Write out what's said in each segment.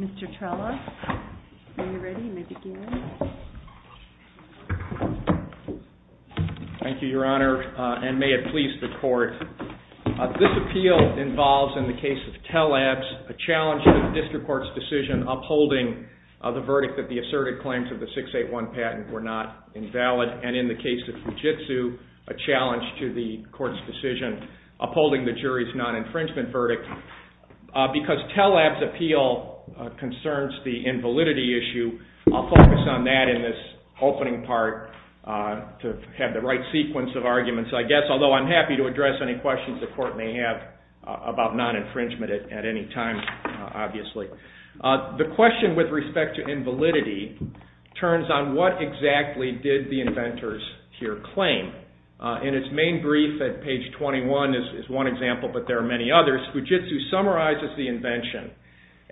Mr. Trella, when you're ready, you may begin. Thank you, Your Honor, and may it please the Court. This appeal involves, in the case of Tellabs, a challenge to the district court's decision upholding the verdict that the asserted claims of the 681 patent were not invalid, and in the case of Fujitsu, a challenge to the court's decision upholding the jury's non-infringement verdict. Because Tellabs' appeal concerns the invalidity issue, I'll focus on that in this opening part to have the right sequence of arguments, I guess, although I'm happy to address any questions the Court may have about non-infringement at any time, obviously. The question with respect to invalidity turns on what exactly did the inventors here claim. In its main brief at page 21 is one example, but there are many others, Fujitsu summarizes the invention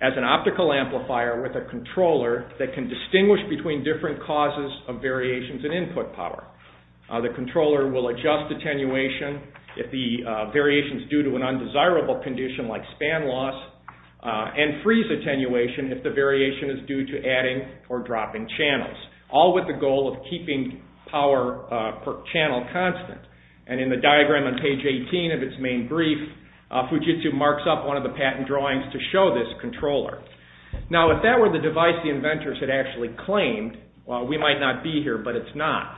as an optical amplifier with a controller that can distinguish between different causes of variations in input power. The controller will adjust attenuation if the variation is due to an undesirable condition like span loss, and freeze attenuation if the variation is due to adding or dropping channels, all with the goal of keeping power per channel constant. And in the diagram on page 18 of its main brief, Fujitsu marks up one of the patent drawings to show this controller. Now if that were the device the inventors had actually claimed, we might not be here, but it's not.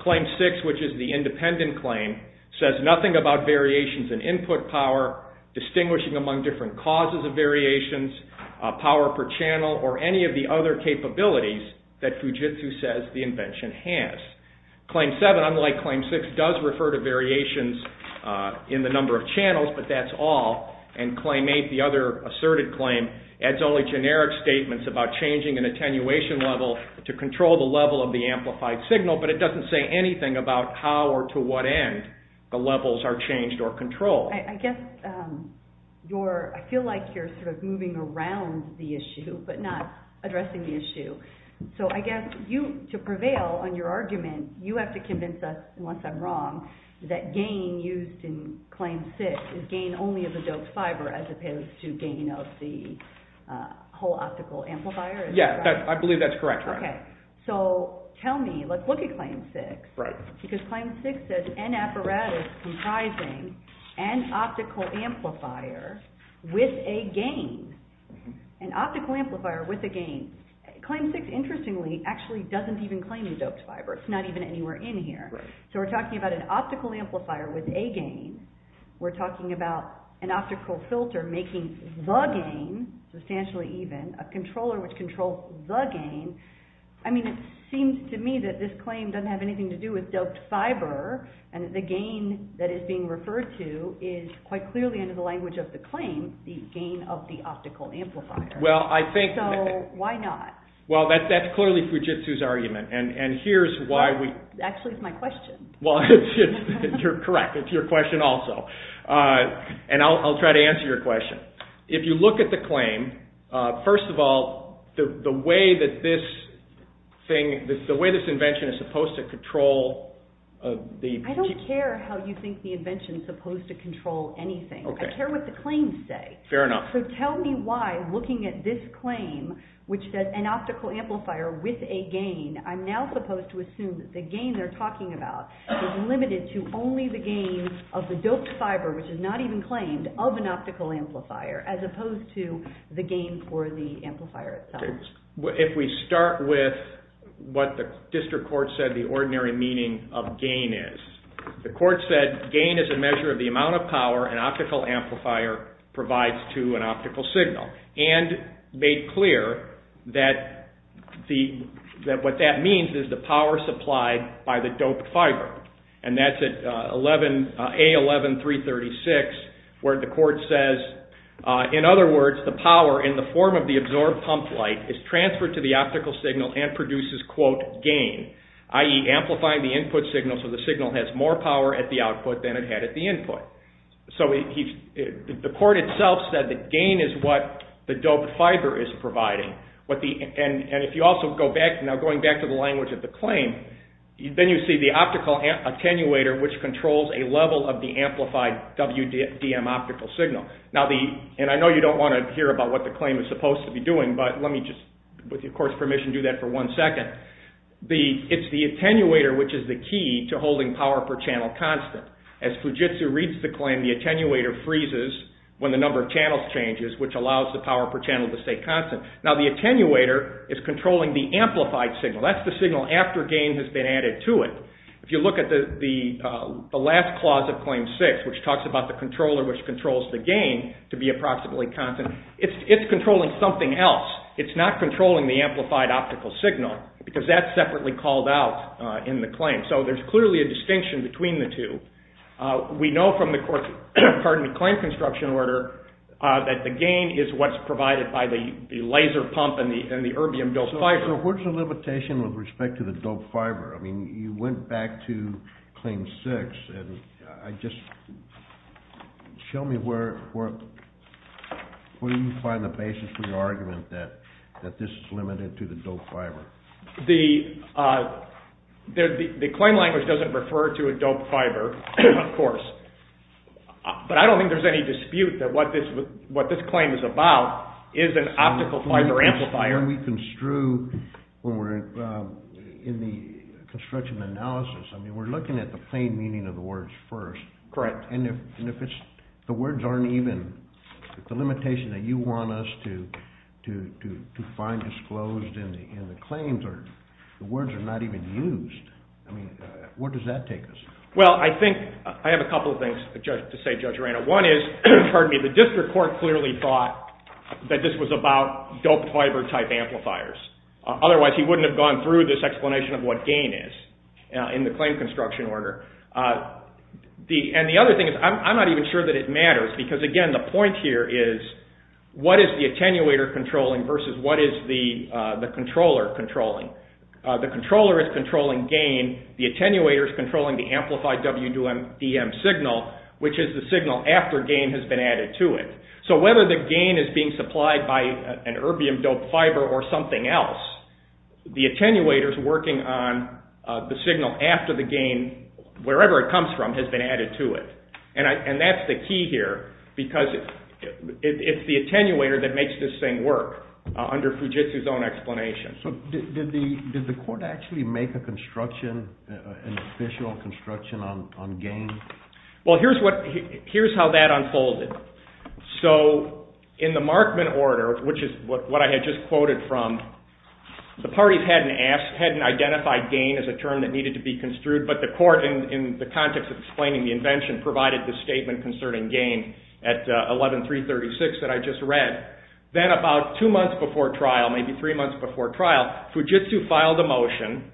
Claim six, which is the independent claim, says nothing about variations in input power, distinguishing among different causes of variations, power per channel, or any of the other capabilities that Fujitsu says the invention has. Claim seven, unlike claim six, does refer to variations in the number of channels, but that's all. And claim eight, the other asserted claim, adds only generic statements about changing an attenuation level to control the level of the amplified signal, but it doesn't say So I guess you're, I feel like you're sort of moving around the issue, but not addressing the issue. So I guess you, to prevail on your argument, you have to convince us, and once I'm wrong, that gain used in claim six is gain only of the doped fiber as opposed to gain of the whole optical amplifier? Yeah, I believe that's correct. Okay, so tell me, let's look at claim six, because claim six says an apparatus comprising an optical amplifier with a gain. An optical amplifier with a gain. Claim six, interestingly, actually doesn't even claim the doped fiber. It's not even anywhere in here. Right. So we're talking about an optical amplifier with a gain. We're talking about an optical filter making the gain, substantially even, a controller which controls the gain. I mean, it seems to me that this claim doesn't have anything to do with doped fiber, and the gain that is being referred to is, quite clearly under the language of the claim, the gain of the optical amplifier. Well, I think... So, why not? Well, that's clearly Fujitsu's argument, and here's why we... Actually, it's my question. Well, you're correct. It's your question also, and I'll try to answer your question. If you look at the claim, first of all, the way that this thing, the way this invention is supposed to control the... I don't care how you think the invention's supposed to control anything. Okay. I care what the claims say. Fair enough. So tell me why, looking at this claim, which says, an optical amplifier with a gain, I'm now supposed to assume that the gain they're talking about is limited to only the gain of the doped fiber, which is not even claimed, of an optical amplifier, as opposed to the gain for the amplifier itself. Well, if we start with what the district court said the ordinary meaning of gain is, the court said gain is a measure of the amount of power an optical amplifier provides to an optical signal, and made clear that what that means is the power supplied by the doped fiber, and that's at A11336, where the court says, in other words, the power in the form of the absorbed pump light is transferred to the optical signal and produces, quote, gain, i.e. amplifying the input signal so the signal has more power at the output than it had at the input. So the court itself said that gain is what the doped fiber is providing, and if you also go back, now going back to the language of the claim, then you see the optical attenuator which controls a level of the amplified WDM optical signal. And I know you don't want to hear about what the claim is supposed to be doing, but let me just, with your court's permission, do that for one second. It's the attenuator which is the key to holding power per channel constant. As Fujitsu reads the claim, the attenuator freezes when the number of channels changes, which allows the power per channel to stay constant. Now the attenuator is controlling the amplified signal, that's the signal after gain has been added to it. If you look at the last clause of Claim 6, which talks about the controller which controls the gain to be approximately constant, it's controlling something else. It's not controlling the amplified optical signal, because that's separately called out in the claim. So there's clearly a distinction between the two. We know from the court's, pardon me, claim construction order that the gain is what's provided by the laser pump and the erbium doped fiber. So what's the limitation with respect to the doped fiber? I mean, you went back to Claim 6 and I just, show me where you find the basis for the argument that this is limited to the doped fiber. The claim language doesn't refer to a doped fiber, of course, but I don't think there's any dispute that what this claim is about is an optical fiber amplifier. When we construe, when we're in the construction analysis, I mean, we're looking at the plain meaning of the words first. Correct. And if it's, the words aren't even, the limitation that you want us to find disclosed in the claims are, the words are not even used, I mean, where does that take us? Well, I think, I have a couple of things to say, Judge Arena. One is, pardon me, the district court clearly thought that this was about doped fiber type amplifiers. Otherwise, he wouldn't have gone through this explanation of what gain is in the claim construction order. And the other thing is, I'm not even sure that it matters, because again, the point here is, what is the attenuator controlling versus what is the controller controlling? The controller is controlling gain, the attenuator is controlling the amplified WDM signal, which is the signal after gain has been added to it. So whether the gain is being supplied by an erbium doped fiber or something else, the attenuator is working on the signal after the gain, wherever it comes from, has been added to it. And that's the key here, because it's the attenuator that makes this thing work under Fujitsu's own explanation. So did the court actually make a construction, an official construction on gain? Well, here's how that unfolded. So in the Markman order, which is what I had just quoted from, the parties hadn't asked, hadn't identified gain as a term that needed to be construed, but the court, in the context of explaining the invention, provided the statement concerning gain at 11-336 that I just read. Then about two months before trial, maybe three months before trial, Fujitsu filed a motion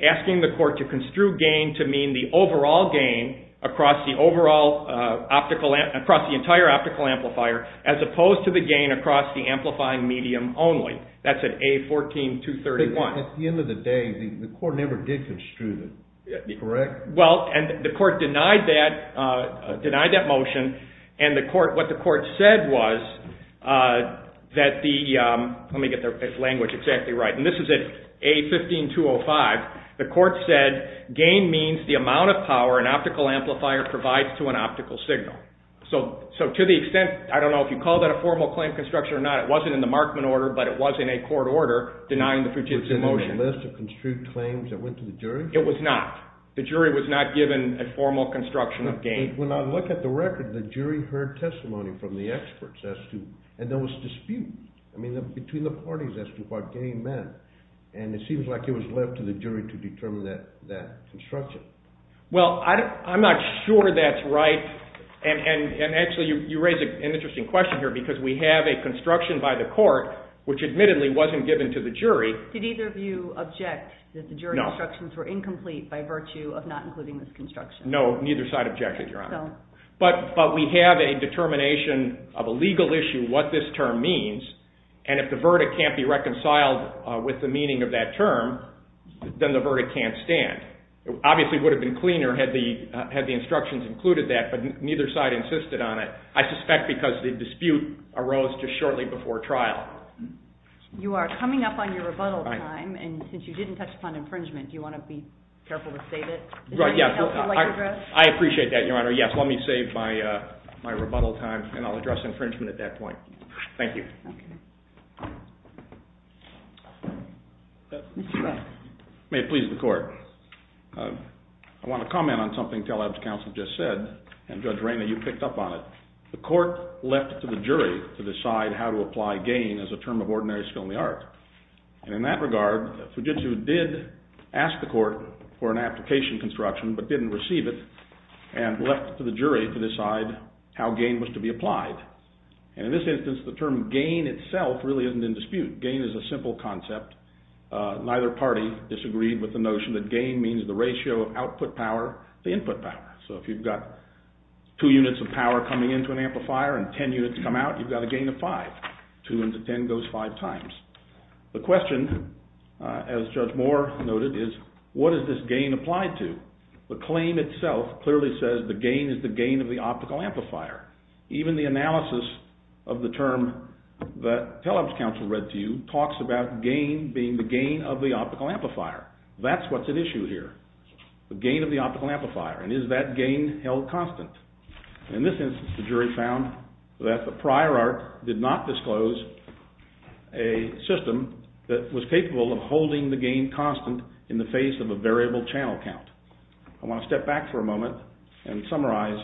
across the entire optical amplifier as opposed to the gain across the amplifying medium only. That's at A-14-231. But at the end of the day, the court never did construe that, correct? Well, the court denied that motion, and what the court said was that the, let me get this language exactly right, and this is at A-15-205, the court said gain means the amount of power an optical amplifier provides to an optical signal. So to the extent, I don't know if you call that a formal claim construction or not, it wasn't in the Markman order, but it was in a court order denying the Fujitsu motion. Was it on the list of construed claims that went to the jury? It was not. The jury was not given a formal construction of gain. When I look at the record, the jury heard testimony from the experts as to, and there was dispute between the parties as to what gain meant, and it seems like it was left to the jury to determine that construction. Well, I'm not sure that's right, and actually you raise an interesting question here, because we have a construction by the court, which admittedly wasn't given to the jury. Did either of you object that the jury instructions were incomplete by virtue of not including this construction? No. Neither side objected, Your Honor. But we have a determination of a legal issue, what this term means, and if the verdict can't be reconciled with the meaning of that term, then the verdict can't stand. It obviously would have been cleaner had the instructions included that, but neither side insisted on it. I suspect because the dispute arose just shortly before trial. You are coming up on your rebuttal time, and since you didn't touch upon infringement, do you want to be careful to save it? I appreciate that, Your Honor. Yes. Let me save my rebuttal time, and I'll address infringement at that point. Thank you. May it please the court. I want to comment on something Teleb's counsel just said, and Judge Rayner, you picked up on it. The court left it to the jury to decide how to apply gain as a term of ordinary skill in the art. And in that regard, Fujitsu did ask the court for an application construction, but didn't receive it, and left it to the jury to decide how gain was to be applied. And in this instance, the term gain itself really isn't in dispute. Gain is a simple concept. Neither party disagreed with the notion that gain means the ratio of output power to input power. So if you've got two units of power coming into an amplifier and ten units come out, you've got a gain of five. Two into ten goes five times. The question, as Judge Moore noted, is what is this gain applied to? The claim itself clearly says the gain is the gain of the optical amplifier. Even the analysis of the term that Teleb's counsel read to you talks about gain being the gain of the optical amplifier. That's what's at issue here, the gain of the optical amplifier, and is that gain held constant? In this instance, the jury found that the prior art did not disclose a system that was capable of holding the gain constant in the face of a variable channel count. I want to step back for a moment and summarize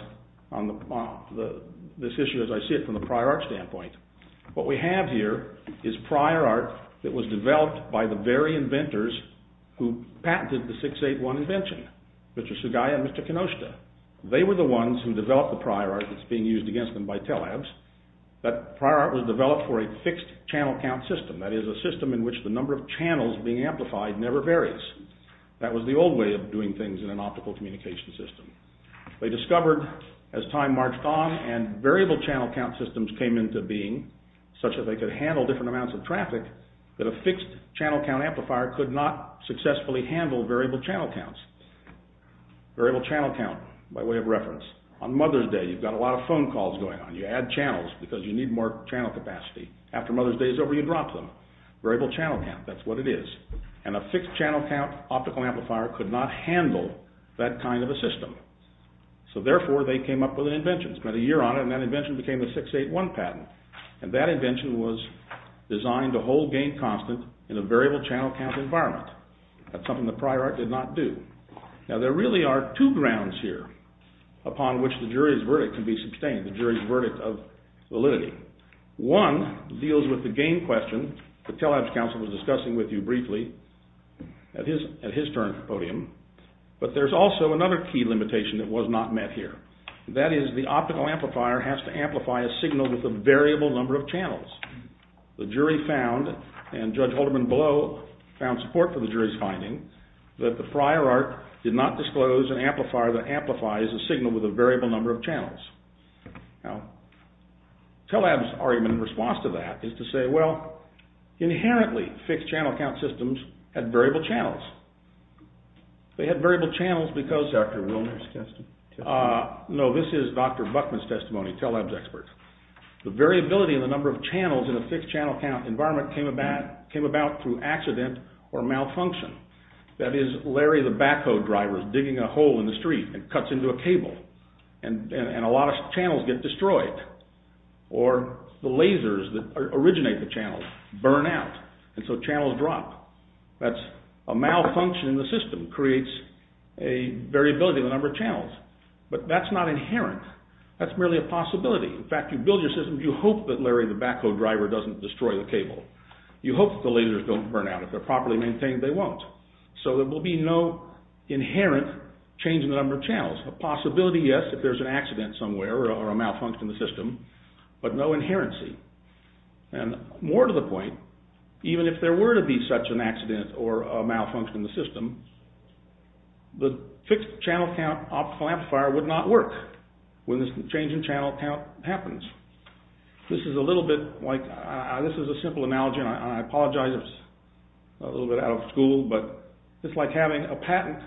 this issue as I see it from the prior art standpoint. What we have here is prior art that was developed by the very inventors who patented the 681 invention, Mr. Sugai and Mr. Kinoshita. They were the ones who developed the prior art that's being used against them by Teleb's. That prior art was developed for a fixed channel count system, that is, a system in which the number of channels being amplified never varies. That was the old way of doing things in an optical communication system. They discovered, as time marched on, and variable channel count systems came into being, such that they could handle different amounts of traffic, that a fixed channel count amplifier could not successfully handle variable channel counts. Variable channel count, by way of reference. On Mother's Day, you've got a lot of phone calls going on. You add channels because you need more channel capacity. After Mother's Day is over, you drop them. Variable channel count, that's what it is. And a fixed channel count optical amplifier could not handle that kind of a system. So therefore, they came up with an invention. Spent a year on it, and that invention became the 681 patent. And that invention was designed to hold gain constant in a variable channel count environment. That's something the prior art did not do. Now, there really are two grounds here upon which the jury's verdict can be sustained, the jury's verdict of validity. One deals with the gain question that Telex Counsel was discussing with you briefly at his turn for podium. But there's also another key limitation that was not met here. That is, the optical amplifier has to amplify a signal with a variable number of channels. The jury found, and Judge Holderman Blow found support for the jury's finding, that the prior art did not disclose an amplifier that amplifies a signal with a variable number of channels. Now, Telex's argument in response to that is to say, well, inherently, fixed channel count systems had variable channels. They had variable channels because, Dr. Wilner's testimony. No, this is Dr. Buckman's testimony, Telex's expert. The variability in the number of channels in a fixed channel count environment came about through accident or malfunction. That is, Larry the backhoe driver is digging a hole in the street and cuts into a cable. And a lot of channels get destroyed. Or the lasers that originate the channels burn out, and so channels drop. That's a malfunction in the system creates a variability in the number of channels. But that's not inherent. That's merely a possibility. In fact, you build your systems, you hope that Larry the backhoe driver doesn't destroy the cable. You hope that the lasers don't burn out. If they're properly maintained, they won't. So there will be no inherent change in the number of channels. A possibility, yes, if there's an accident somewhere or a malfunction in the system, but no inherency. And more to the point, even if there were to be such an accident or a malfunction in the system, the fixed channel count optical amplifier would not work when this change in channel count happens. This is a little bit like, this is a simple analogy, and I apologize if it's a little bit out of school, but it's like having a patent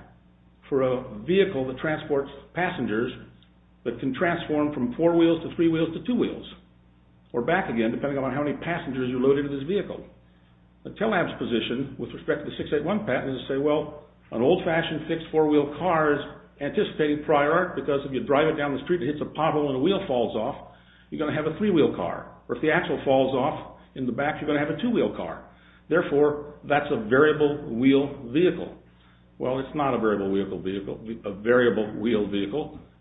for a vehicle that transports passengers that can transform from four wheels to three wheels to two wheels. Or back again, depending on how many passengers you load into this vehicle. A tele-app's position with respect to the 681 patent is to say, well, an old-fashioned fixed four-wheel car is anticipated prior art because if you drive it down the street and it hits a puddle and a wheel falls off, you're going to have a three-wheel car. Or if the axle falls off in the back, you're going to have a two-wheel car. Therefore, that's a variable wheel vehicle. Well, it's not a variable wheel vehicle.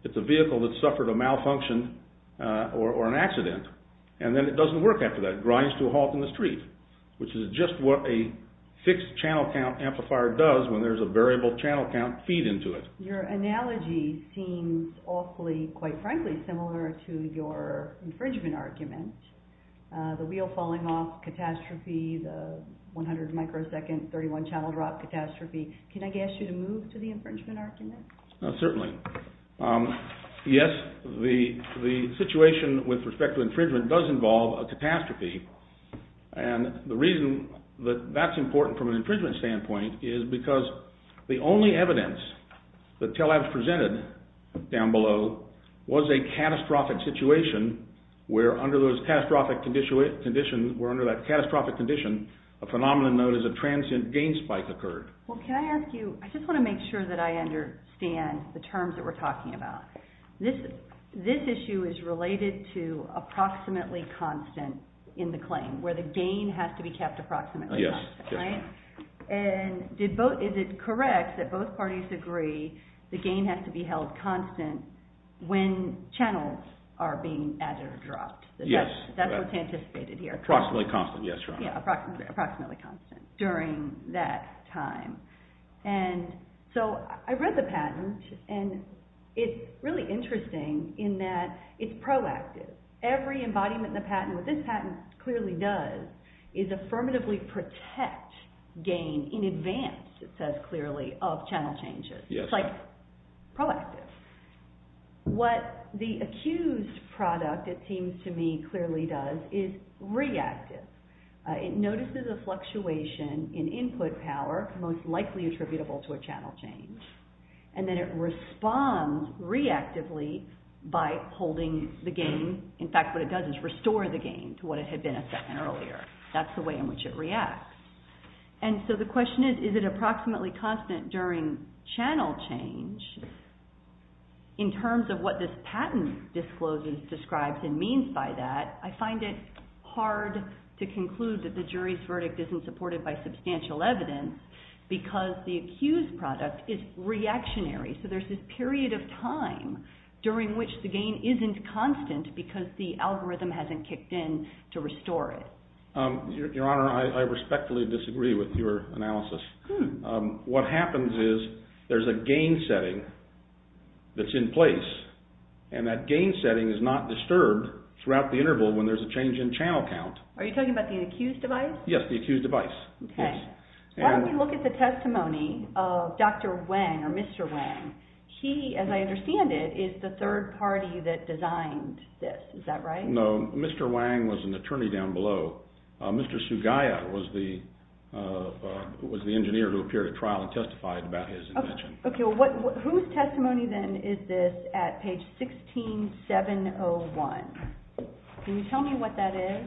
It's a vehicle that suffered a malfunction or an accident. And then it doesn't work after that. It grinds to a halt in the street, which is just what a fixed channel count amplifier does when there's a variable channel count feed into it. Your analogy seems awfully, quite frankly, similar to your infringement argument. The wheel falling off, catastrophe. The 100-microsecond 31-channel drop, catastrophe. Can I ask you to move to the infringement argument? Certainly. Yes, the situation with respect to infringement does involve a catastrophe. And the reason that that's important from an infringement standpoint is because the only evidence that tele-apps presented down below was a catastrophic situation where under that catastrophic condition, a phenomenon known as a transient gain spike occurred. Well, can I ask you, I just want to make sure that I understand the terms that we're talking about. This issue is related to approximately constant in the claim, where the gain has to be kept approximately constant, right? And is it correct that both parties agree the gain has to be held constant when channels are being added or dropped? Yes. That's what's anticipated here. Approximately constant, yes, Your Honor. Yeah, approximately constant during that time. And so I read the patent, and it's really interesting in that it's proactive. Every embodiment in the patent, what this patent clearly does, is affirmatively protect gain in advance, it says clearly, of channel changes. It's like proactive. What the accused product, it seems to me, clearly does is reactive. It notices a fluctuation in input power, most likely attributable to a channel change, and then it responds reactively by holding the gain. In fact, what it does is restore the gain to what it had been a second earlier. That's the way in which it reacts. And so the question is, is it approximately constant during channel change? In terms of what this patent discloses, describes, and means by that, I find it hard to conclude that the jury's verdict isn't supported by substantial evidence because the accused product is reactionary. So there's this period of time during which the gain isn't constant because the algorithm hasn't kicked in to restore it. Your Honor, I respectfully disagree with your analysis. What happens is there's a gain setting that's in place, and that gain setting is not disturbed throughout the interval when there's a change in channel count. Are you talking about the accused device? Yes, the accused device. Why don't we look at the testimony of Dr. Wang, or Mr. Wang. He, as I understand it, is the third party that designed this. Is that right? I don't know. Mr. Wang was an attorney down below. Mr. Sugaya was the engineer who appeared at trial and testified about his invention. Okay. Whose testimony then is this at page 16701? Can you tell me what that is?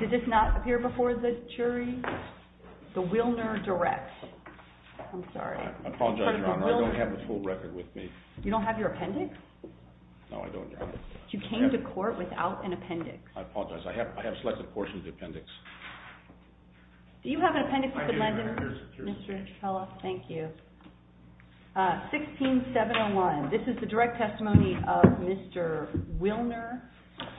Did this not appear before the jury? The Wilner Direct. I'm sorry. I apologize, Your Honor. I don't have the full record with me. You don't have your appendix? No, I don't, Your Honor. You came to court without an appendix? I apologize. I have a selected portion of the appendix. Do you have an appendix you could lend him, Mr. Trello? Thank you. 16701. This is the direct testimony of Mr. Wilner.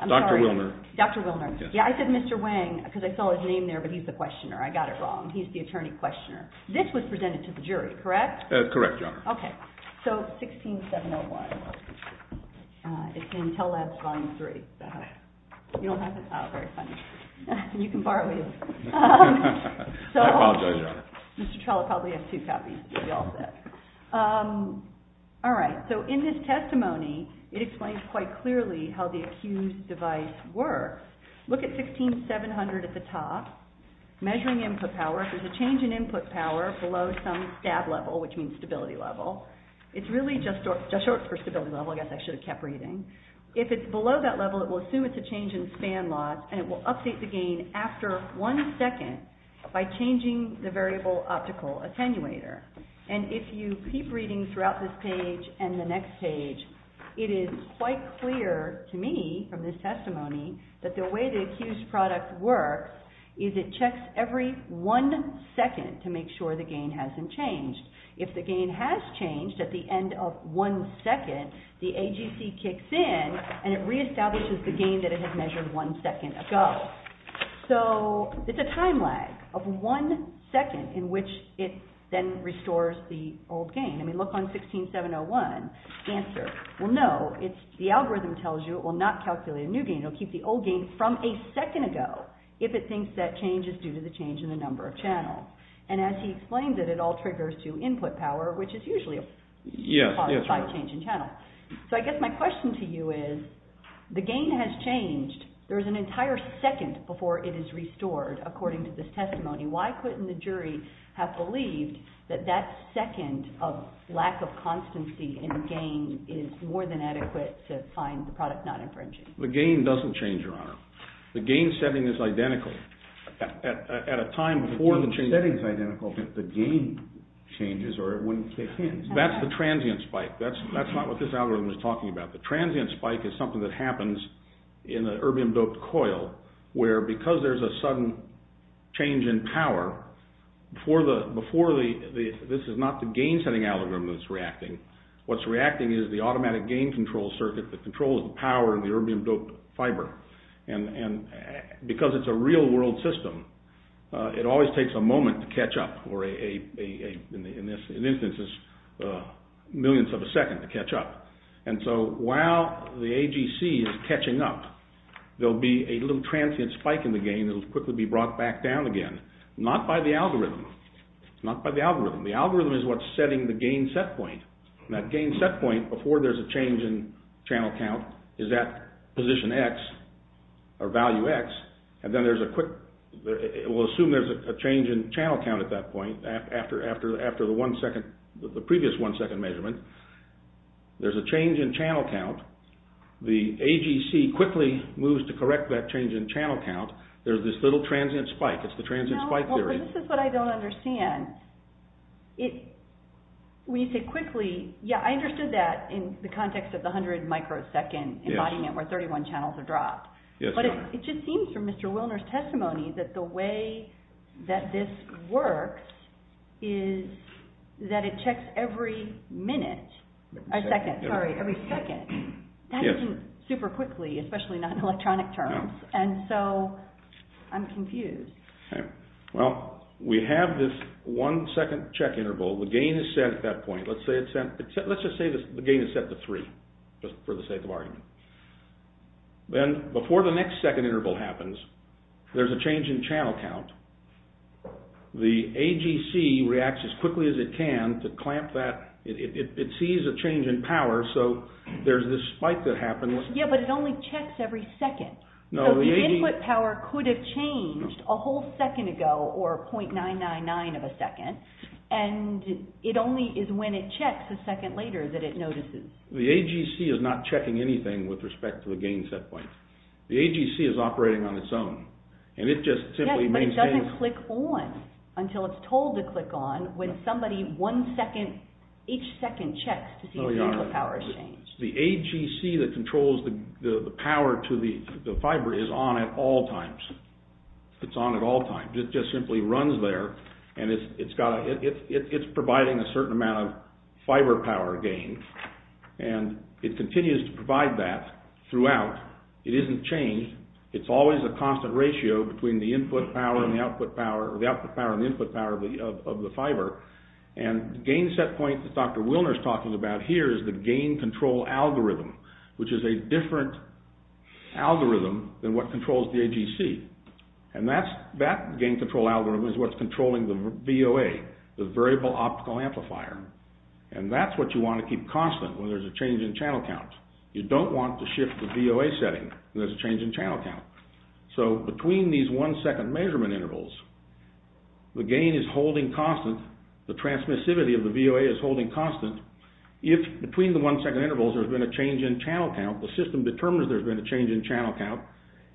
Dr. Wilner. Dr. Wilner. Yes. Yeah, I said Mr. Wang because I saw his name there, but he's the questioner. I got it wrong. He's the attorney-questioner. This was presented to the jury, correct? Correct, Your Honor. Okay, so 16701. It's in Intel Labs Volume 3. You don't have it? Oh, very funny. You can borrow it. I apologize, Your Honor. Mr. Trello probably has two copies, as you all said. All right, so in this testimony, it explains quite clearly how the accused device works. Look at 16700 at the top. Measuring input power. There's a change in input power below some stab level, which means stability level. It's really just short for stability level. I guess I should have kept reading. If it's below that level, it will assume it's a change in span loss, and it will update the gain after one second by changing the variable optical attenuator. And if you keep reading throughout this page and the next page, it is quite clear to me from this testimony that the way the accused product works is it checks every one second to make sure the gain hasn't changed. If the gain has changed at the end of one second, the AGC kicks in and it reestablishes the gain that it had measured one second ago. So it's a time lag of one second in which it then restores the old gain. I mean, look on 16701. Answer. Well, no. The algorithm tells you it will not calculate a new gain. It will keep the old gain from a second ago if it thinks that change is due to the change in the number of channels. And as he explains it, it all triggers to input power, which is usually a positive change in channel. So I guess my question to you is the gain has changed. There's an entire second before it is restored, according to this testimony. Why couldn't the jury have believed that that second of lack of constancy in gain is more than adequate to find the product not infringing? The gain doesn't change, Your Honor. The gain setting is identical. At a time before the change is identical, the gain changes or it wouldn't kick in. That's the transient spike. That's not what this algorithm is talking about. The transient spike is something that happens in an erbium-doped coil where because there's a sudden change in power, this is not the gain-setting algorithm that's reacting. What's reacting is the automatic gain control circuit that controls the power in the erbium-doped fiber. And because it's a real-world system, it always takes a moment to catch up, or in this instance, a millionth of a second to catch up. And so while the AGC is catching up, there'll be a little transient spike in the gain that'll quickly be brought back down again. Not by the algorithm. Not by the algorithm. The algorithm is what's setting the gain set point. And that gain set point, before there's a change in channel count, is at position X or value X. And then there's a quick... We'll assume there's a change in channel count at that point after the previous one-second measurement. There's a change in channel count. The AGC quickly moves to correct that change in channel count. There's this little transient spike. It's the transient spike theory. Now, this is what I don't understand. When you say quickly, yeah, I understood that in the context of the 100-microsecond embodiment where 31 channels are dropped. But it just seems from Mr. Wilner's testimony that the way that this works is that it checks every minute. Every second. Sorry, every second. That isn't super quickly, especially not in electronic terms. And so I'm confused. Well, we have this one-second check interval. The gain is set at that point. Let's just say the gain is set to three, just for the sake of argument. Then, before the next second interval happens, there's a change in channel count. The AGC reacts as quickly as it can to clamp that. It sees a change in power, so there's this spike that happens. Yeah, but it only checks every second. So the input power could have changed a whole second ago or 0.999 of a second, and it only is when it checks a second later that it notices. The AGC is not checking anything with respect to the gain set point. The AGC is operating on its own, and it just simply maintains... Yes, but it doesn't click on until it's told to click on when somebody, each second, checks to see if the input power has changed. The AGC that controls the power to the fiber is on at all times. It's on at all times. It just simply runs there, and it's providing a certain amount of fiber power gain, and it continues to provide that throughout. It isn't changed. It's always a constant ratio between the input power and the output power, of the fiber, and the gain set point that Dr. Wilner is talking about here is the gain control algorithm, which is a different algorithm than what controls the AGC. And that gain control algorithm is what's controlling the VOA, the variable optical amplifier, and that's what you want to keep constant when there's a change in channel count. You don't want to shift the VOA setting when there's a change in channel count. So between these one-second measurement intervals, the gain is holding constant, the transmissivity of the VOA is holding constant. If, between the one-second intervals, there's been a change in channel count, the system determines there's been a change in channel count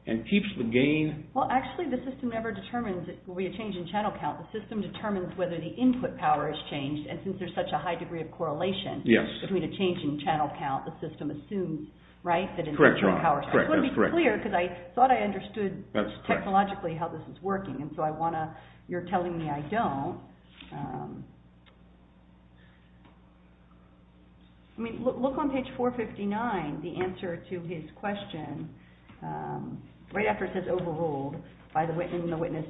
and keeps the gain... Well, actually, the system never determines it will be a change in channel count. The system determines whether the input power has changed, and since there's such a high degree of correlation between a change in channel count, the system assumes, right, that it's... Correct. It's going to be clear, because I thought I understood technologically how this is working, and so I want to... You're telling me I don't. I mean, look on page 459, the answer to his question, right after it says overruled, and the witness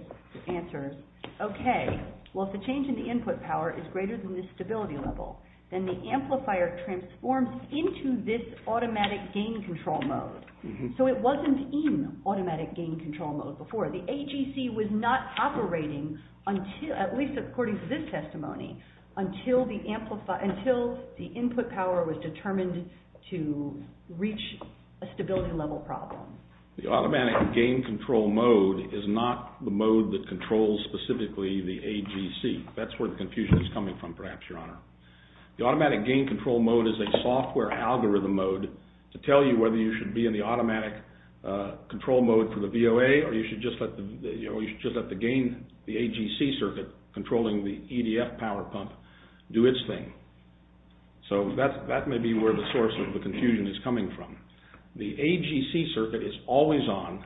answers, OK, well, if the change in the input power is greater than the stability level, then the amplifier transforms into this automatic gain control mode. So it wasn't in automatic gain control mode before. The AGC was not operating, at least according to this testimony, until the input power was determined to reach a stability level problem. The automatic gain control mode is not the mode that controls specifically the AGC. That's where the confusion is coming from, perhaps, Your Honor. The automatic gain control mode is a software algorithm mode to tell you whether you should be in the automatic control mode for the VOA, or you should just let the gain, the AGC circuit controlling the EDF power pump, do its thing. So that may be where the source of the confusion is coming from. The AGC circuit is always on.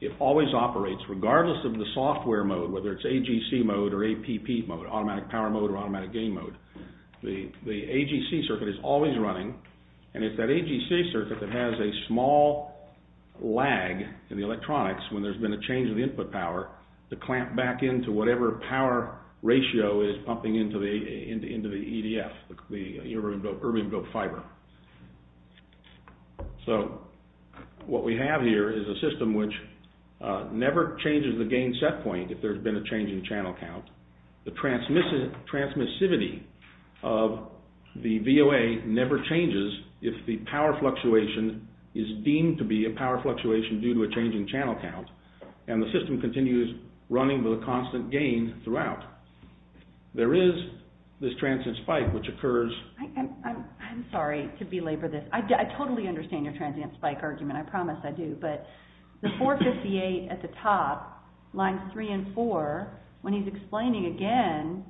It always operates, regardless of the software mode, whether it's AGC mode or APP mode, automatic power mode or automatic gain mode. The AGC circuit is always running, and it's that AGC circuit that has a small lag in the electronics when there's been a change in the input power to clamp back into whatever power ratio is pumping into the EDF, the erbium-doped fiber. So what we have here is a system which never changes the gain set point if there's been a change in channel count. The transmissivity of the VOA never changes if the power fluctuation is deemed to be a power fluctuation due to a change in channel count, and the system continues running with a constant gain throughout. There is this transient spike which occurs... I'm sorry to belabor this. I totally understand your transient spike argument. I promise I do. But the 458 at the top, lines 3 and 4, when he's explaining again,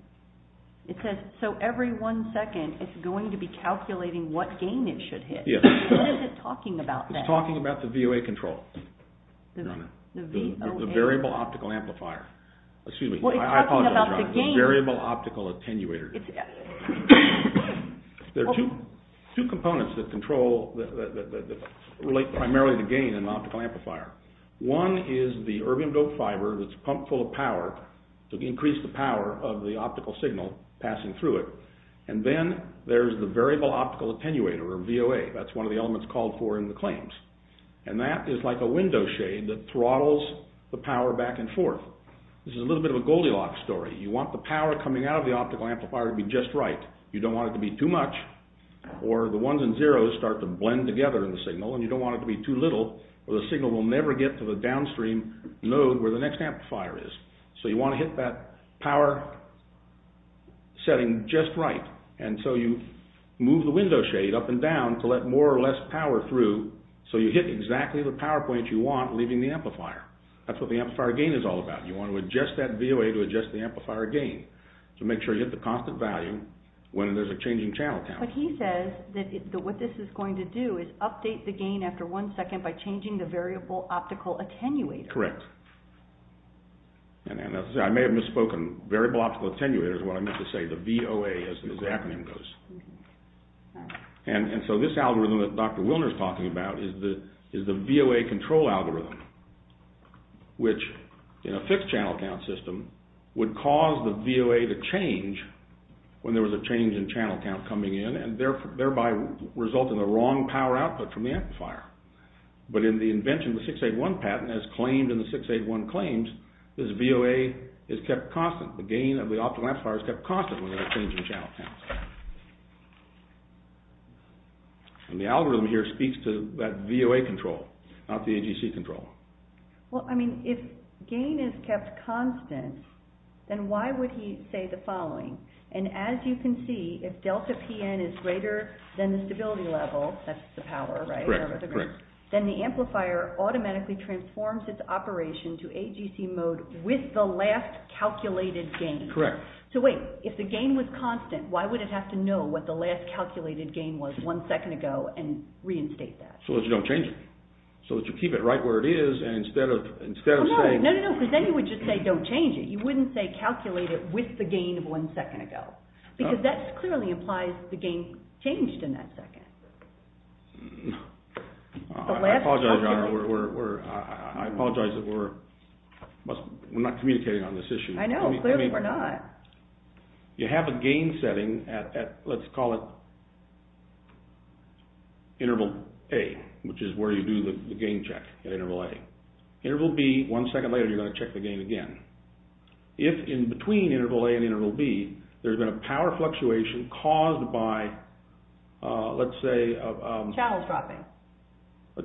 it says so every one second it's going to be calculating what gain it should hit. What is it talking about then? It's talking about the VOA control. The variable optical amplifier. Excuse me. I apologize. Variable optical attenuator. There are two components that control... that relate primarily to gain and optical amplifier. One is the erbium-doped fiber that's pumped full of power to increase the power of the optical signal passing through it. And then there's the variable optical attenuator or VOA. That's one of the elements called for in the claims. And that is like a window shade that throttles the power back and forth. This is a little bit of a Goldilocks story. You want the power coming out of the optical amplifier to be just right. You don't want it to be too much or the ones and zeros start to blend together in the signal and you don't want it to be too little or the signal will never get to the downstream node where the next amplifier is. So you want to hit that power setting just right. And so you move the window shade up and down to let more or less power through so you hit exactly the power point you want leaving the amplifier. That's what the amplifier gain is all about. You want to adjust that VOA to adjust the amplifier gain to make sure you hit the constant value when there's a changing channel count. But he says that what this is going to do is update the gain after one second by changing the variable optical attenuator. Correct. And as I may have misspoken, variable optical attenuator is what I meant to say, the VOA as the exact name goes. And so this algorithm that Dr. Wilner is talking about is the VOA control algorithm which in a fixed channel count system would cause the VOA to change when there was a change in channel count coming in and thereby resulting in a wrong power output from the amplifier. But in the invention of the 681 patent as claimed in the 681 claims, this VOA is kept constant. The gain of the optical amplifier is kept constant when there's a change in channel count. And the algorithm here speaks to that VOA control, not the AGC control. Well, I mean, if gain is kept constant, then why would he say the following? And as you can see, if delta PN is greater than the stability level, that's the power, right? Correct. Then the amplifier automatically transforms its operation to AGC mode with the last calculated gain. Correct. So wait, if the gain was constant, why would it have to know what the last calculated gain was one second ago and reinstate that? So that you don't change it. So that you keep it right where it is and instead of saying... No, no, no, because then you would just say don't change it. You wouldn't say calculate it with the gain of one second ago. Because that clearly implies the gain changed in that second. I apologize, we're... I apologize that we're not communicating on this issue. I know, clearly we're not. You have a gain setting at, let's call it, interval A, which is where you do the gain check at interval A. Interval B, one second later, you're going to check the gain again. If, in between interval A and interval B, there's been a power fluctuation caused by, let's say... Channel dropping.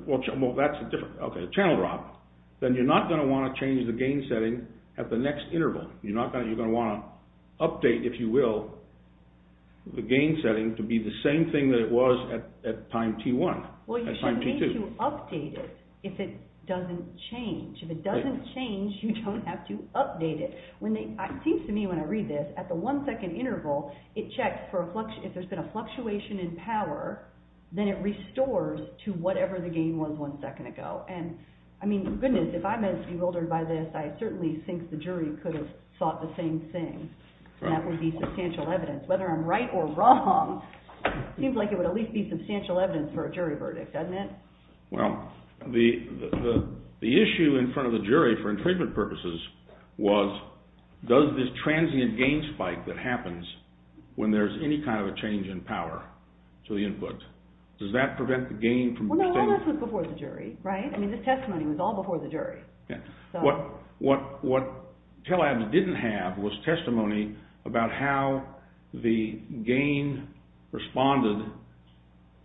Well, that's a different... Okay, a channel drop. Then you're not going to want to change the gain setting at the next interval. You're not going to... You're going to want to update, if you will, the gain setting to be the same thing that it was at time T1, at time T2. Well, you should need to update it if it doesn't change. If it doesn't change, you don't have to update it. It seems to me, when I read this, at the one second interval, it checks if there's been a fluctuation in power, then it restores to whatever the gain was one second ago. And, I mean, goodness, if I'm as bewildered by this, I certainly think the jury could have thought the same thing, and that would be substantial evidence. Whether I'm right or wrong, it seems like it would at least be substantial evidence for a jury verdict, doesn't it? Well, the issue in front of the jury, for infringement purposes, was does this transient gain spike that happens when there's any kind of a change in power to the input, does that prevent the gain from... Well, no, all this was before the jury, right? I mean, this testimony was all before the jury. Yeah. So... What TeleABS didn't have was testimony about how the gain responded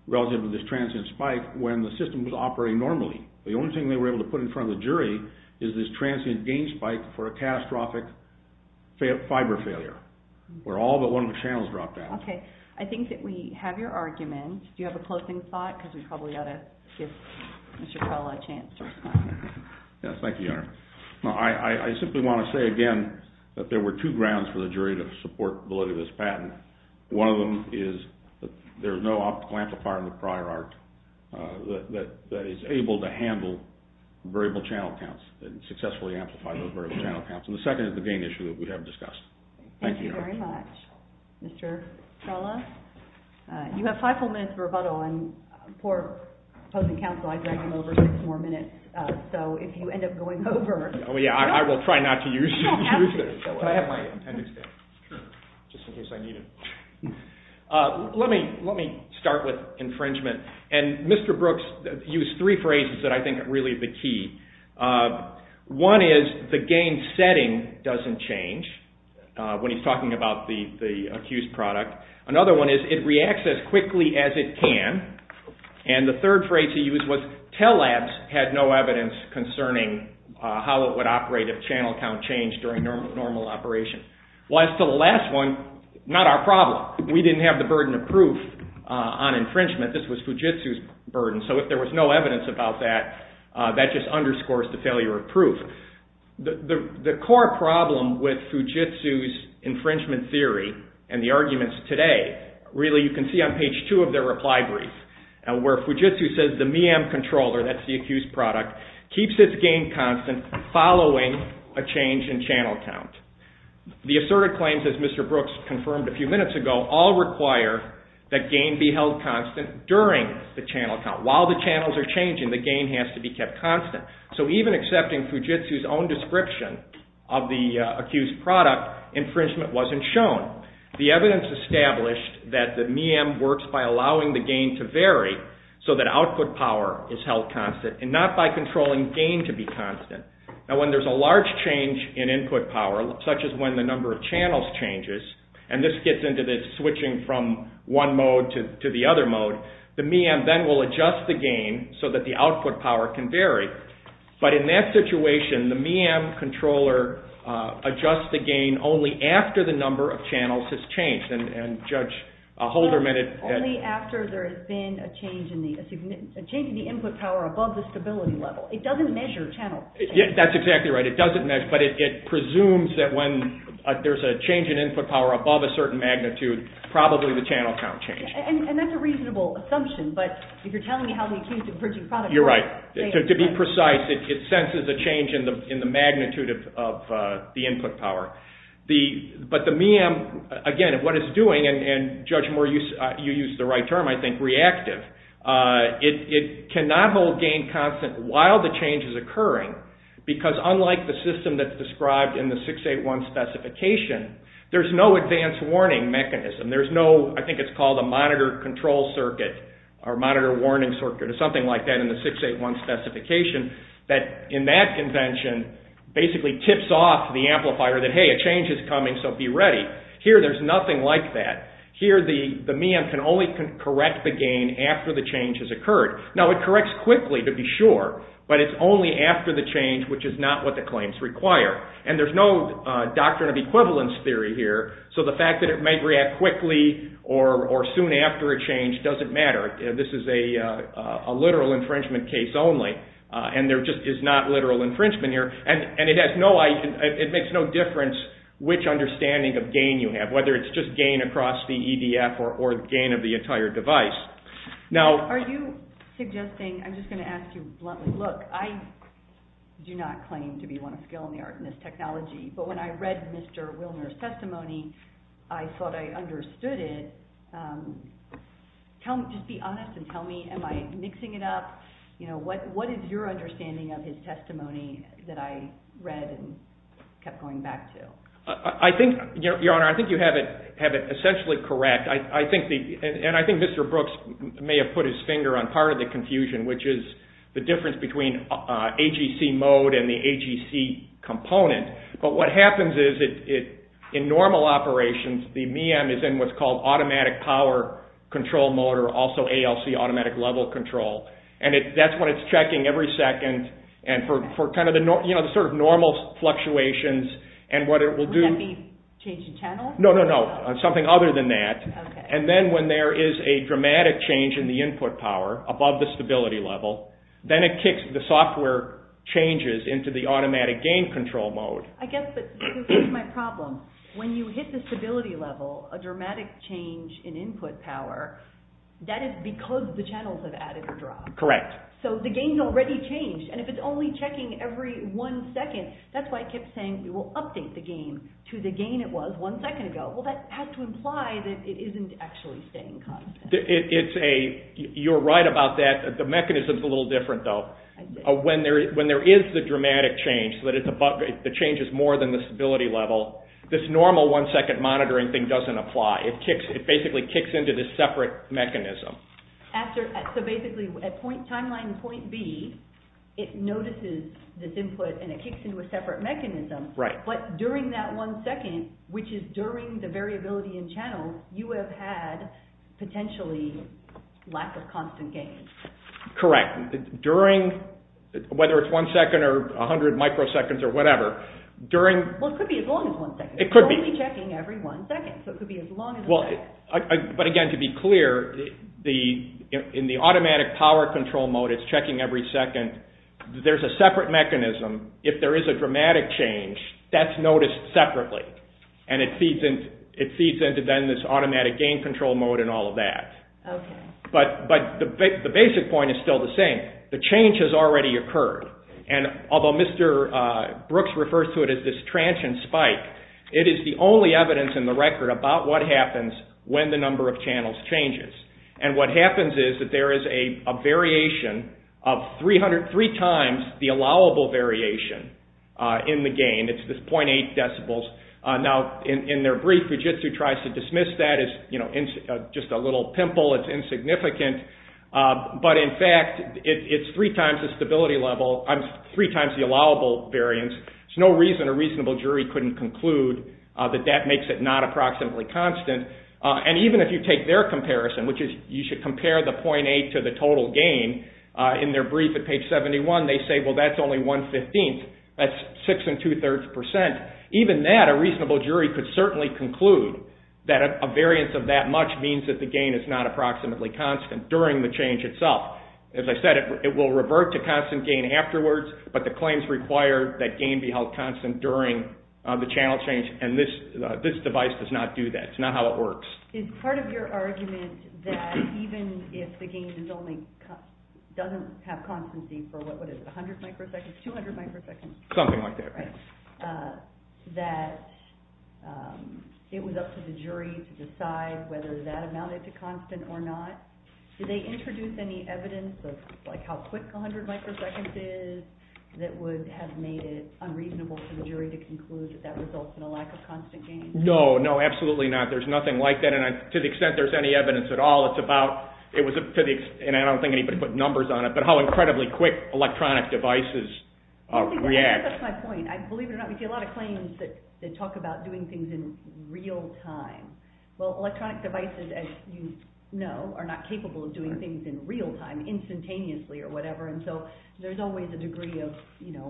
relative to this transient spike when the system was operating normally. The only thing they were able to put in front of the jury is this transient gain spike for a catastrophic fiber failure, where all but one of the channels dropped out. Okay, I think that we have your argument. Do you have a closing thought? Because we probably ought to give Mr. Kala a chance to respond. Yes, thank you, Your Honor. I simply want to say again that there were two grounds for the jury to support validity of this patent. One of them is that there's no optical amplifier in the prior art that is able to handle variable channel counts and successfully amplify those variable channel counts. And the second is the gain issue that we have discussed. Thank you, Your Honor. Thank you very much, Mr. Kala. You have five full minutes of rebuttal, and poor opposing counsel, I dragged him over six more minutes. So if you end up going over... Oh, yeah, I will try not to use this. But I have my appendix there. Sure. Just in case I need it. Let me start with infringement. And Mr. Brooks used three phrases that I think are really the key. One is the gain setting doesn't change when he's talking about the accused product. Another one is it reacts as quickly as it can. And the third phrase he used was Telabs had no evidence concerning how it would operate if channel count changed during normal operation. As to the last one, not our problem. We didn't have the burden of proof on infringement. This was Fujitsu's burden. So if there was no evidence about that, that just underscores the failure of proof. The core problem with Fujitsu's infringement theory and the arguments today, really you can see on page two of their reply brief, where Fujitsu says the MEAM controller, that's the accused product, keeps its gain constant following a change in channel count. The asserted claims, as Mr. Brooks confirmed a few minutes ago, all require that gain be held constant during the channel count. While the channels are changing, the gain has to be kept constant. So even accepting Fujitsu's own description of the accused product, infringement wasn't shown. The evidence established that the MEAM works by allowing the gain to vary so that output power is held constant and not by controlling gain to be constant. Now when there's a large change in input power, such as when the number of channels changes, and this gets into the switching from one mode to the other mode, the MEAM then will adjust the gain so that the output power can vary. But in that situation, the MEAM controller adjusts the gain only after the number of channels has changed. And Judge Holderman... ...changing the input power above the stability level. It doesn't measure channel... That's exactly right, it doesn't measure, but it presumes that when there's a change in input power above a certain magnitude, probably the channel count changes. And that's a reasonable assumption, but if you're telling me how the accused infringing product... You're right. To be precise, it senses a change in the magnitude of the input power. But the MEAM, again, what it's doing, and Judge Moore, you used the right term, I think, reactive. It cannot hold gain constant while the change is occurring because unlike the system that's described in the 681 specification, there's no advanced warning mechanism. There's no, I think it's called a monitor control circuit or monitor warning circuit or something like that in the 681 specification that in that convention basically tips off the amplifier that, hey, a change is coming, so be ready. Here, there's nothing like that. Here, the MEAM can only correct the gain after the change has occurred. Now, it corrects quickly, to be sure, but it's only after the change, which is not what the claims require. And there's no doctrine of equivalence theory here, so the fact that it may react quickly or soon after a change doesn't matter. This is a literal infringement case only, and there just is not literal infringement here. And it makes no difference which understanding of gain you have, whether it's just gain across the EDF or gain of the entire device. Now, are you suggesting, I'm just going to ask you bluntly, look, I do not claim to be one of skill in the art in this technology, but when I read Mr. Wilner's testimony, I thought I understood it. Just be honest and tell me, am I mixing it up? What is your understanding of his testimony that I read and kept going back to? I think, Your Honor, I think you have it essentially correct. And I think Mr. Brooks may have put his finger on part of the confusion, which is the difference between AGC mode and the AGC component. But what happens is, in normal operations, the MEAM is in what's called automatic power control mode, or also ALC, automatic level control. And that's what it's checking every second. And for the sort of normal fluctuations, and what it will do… Would that be change in channel? No, no, no. Something other than that. And then when there is a dramatic change in the input power, above the stability level, then it kicks the software changes into the automatic gain control mode. I guess, but here's my problem. When you hit the stability level, a dramatic change in input power, that is because the channels have added or dropped. Correct. So the gain's already changed. And if it's only checking every one second, that's why I kept saying we will update the gain to the gain it was one second ago. Well, that has to imply that it isn't actually staying constant. You're right about that. The mechanism's a little different, though. When there is the dramatic change, so that the change is more than the stability level, this normal one-second monitoring thing doesn't apply. It basically kicks into this separate mechanism. So basically, at timeline point B, it notices this input and it kicks into a separate mechanism. Right. But during that one second, which is during the variability in channels, you have had, potentially, lack of constant gain. Correct. During, whether it's one second or 100 microseconds or whatever, Well, it could be as long as one second. It could be. It could be checking every one second. So it could be as long as one second. But again, to be clear, in the automatic power control mode, it's checking every second. There's a separate mechanism. If there is a dramatic change, that's noticed separately. And it feeds into, then, this automatic gain control mode and all of that. Okay. But the basic point is still the same. The change has already occurred. And although Mr. Brooks refers to it as this transient spike, it is the only evidence in the record about what happens when the number of channels changes. And what happens is that there is a variation of three times the allowable variation in the gain. It's this 0.8 decibels. Now, in their brief, Fujitsu tries to dismiss that as just a little pimple. It's insignificant. But in fact, it's three times the allowable variance. There's no reason a reasonable jury couldn't conclude that that makes it not approximately constant. And even if you take their comparison, which is you should compare the 0.8 to the total gain, in their brief at page 71, they say, well, that's only one-fifteenth. That's six and two-thirds percent. Even that, a reasonable jury could certainly conclude that a variance of that much means that the gain is not approximately constant during the change itself. As I said, it will revert to constant gain afterwards, but the claims require that gain be held constant during the channel change. And this device does not do that. It's not how it works. Is part of your argument that even if the gain doesn't have constancy for, what is it, 100 microseconds, 200 microseconds? Something like that. That it was up to the jury to decide whether that amounted to constant or not. Do they introduce any evidence of how quick 100 microseconds is that would have made it unreasonable for the jury to conclude that that results in a lack of constant gain? No, no, absolutely not. There's nothing like that. And to the extent there's any evidence at all, it's about, and I don't think anybody put numbers on it, but how incredibly quick electronic devices react. That's my point. Believe it or not, we see a lot of claims that talk about doing things in real time. Well, electronic devices, as you know, are not capable of doing things in real time instantaneously or whatever, and so there's always a degree of,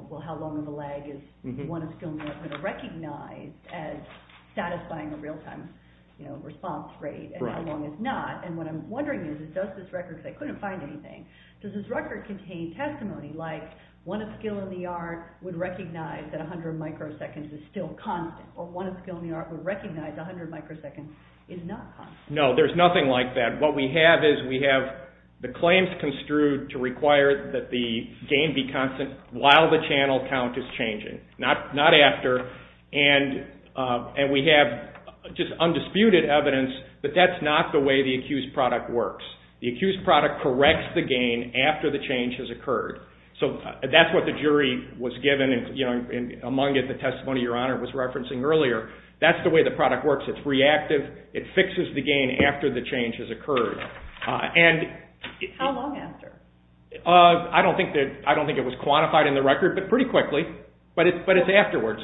well, how long of a lag is one of skill and the art going to recognize as satisfying a real-time response rate and how long it's not. And what I'm wondering is, does this record, because I couldn't find anything, does this record contain testimony like one of skill and the art would recognize that 100 microseconds is still constant, or one of skill and the art would recognize 100 microseconds is not constant? No, there's nothing like that. What we have is we have the claims construed to require that the gain be constant while the channel count is changing, not after, and we have just undisputed evidence, but that's not the way the accused product works. The accused product corrects the gain after the change has occurred. So that's what the jury was given, and among it the testimony Your Honor was referencing earlier. That's the way the product works. It's reactive. It fixes the gain after the change has occurred. How long after? I don't think it was quantified in the record, but pretty quickly, but it's afterwards.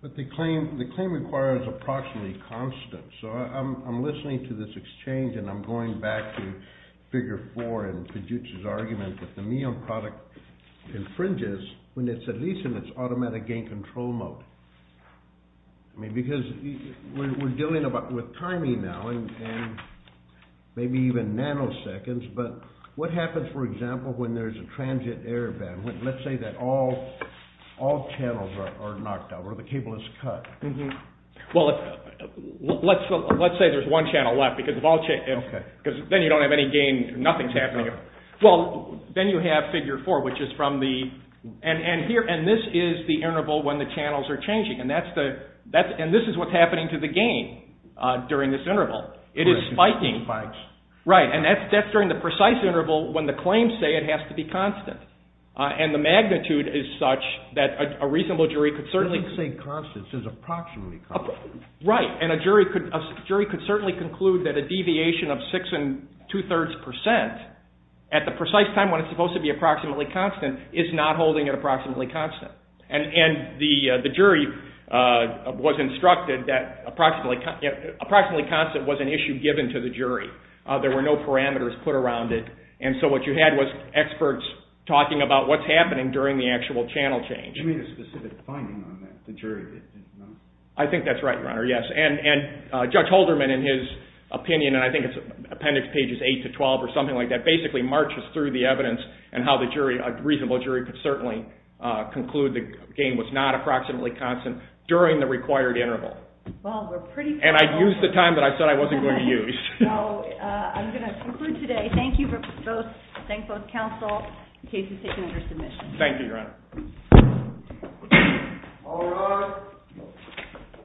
But the claim requires approximately constant, so I'm listening to this exchange and I'm going back to Figure 4 and Piduch's argument that the Mion product infringes when it's at least in its automatic gain control mode. I mean, because we're dealing with timing now, and maybe even nanoseconds, but what happens, for example, when there's a transient error band? Let's say that all channels are knocked out or the cable is cut. Well, let's say there's one channel left, because then you don't have any gain, nothing's happening. Well, then you have Figure 4, which is from the, and this is the interval when the channels are changing, and this is what's happening to the gain during this interval. It is spiking. Right, and that's during the precise interval when the claims say it has to be constant, and the magnitude is such that a reasonable jury could certainly They didn't say constant, they said approximately constant. Right, and a jury could certainly conclude that a deviation of six and two-thirds percent at the precise time when it's supposed to be approximately constant is not holding it approximately constant. And the jury was instructed that approximately constant was an issue given to the jury. There were no parameters put around it, and so what you had was experts talking about what's happening during the actual channel change. You made a specific finding on that, the jury did not. I think that's right, Your Honor, yes. And Judge Holderman, in his opinion, and I think it's appendix pages 8 to 12 or something like that, basically marches through the evidence and how a reasonable jury could certainly conclude the gain was not approximately constant during the required interval. Well, we're pretty close. And I used the time that I said I wasn't going to use. I'm going to conclude today. Thank you both, thank both counsel, in case it's taken under submission. Thank you, Your Honor. All rise.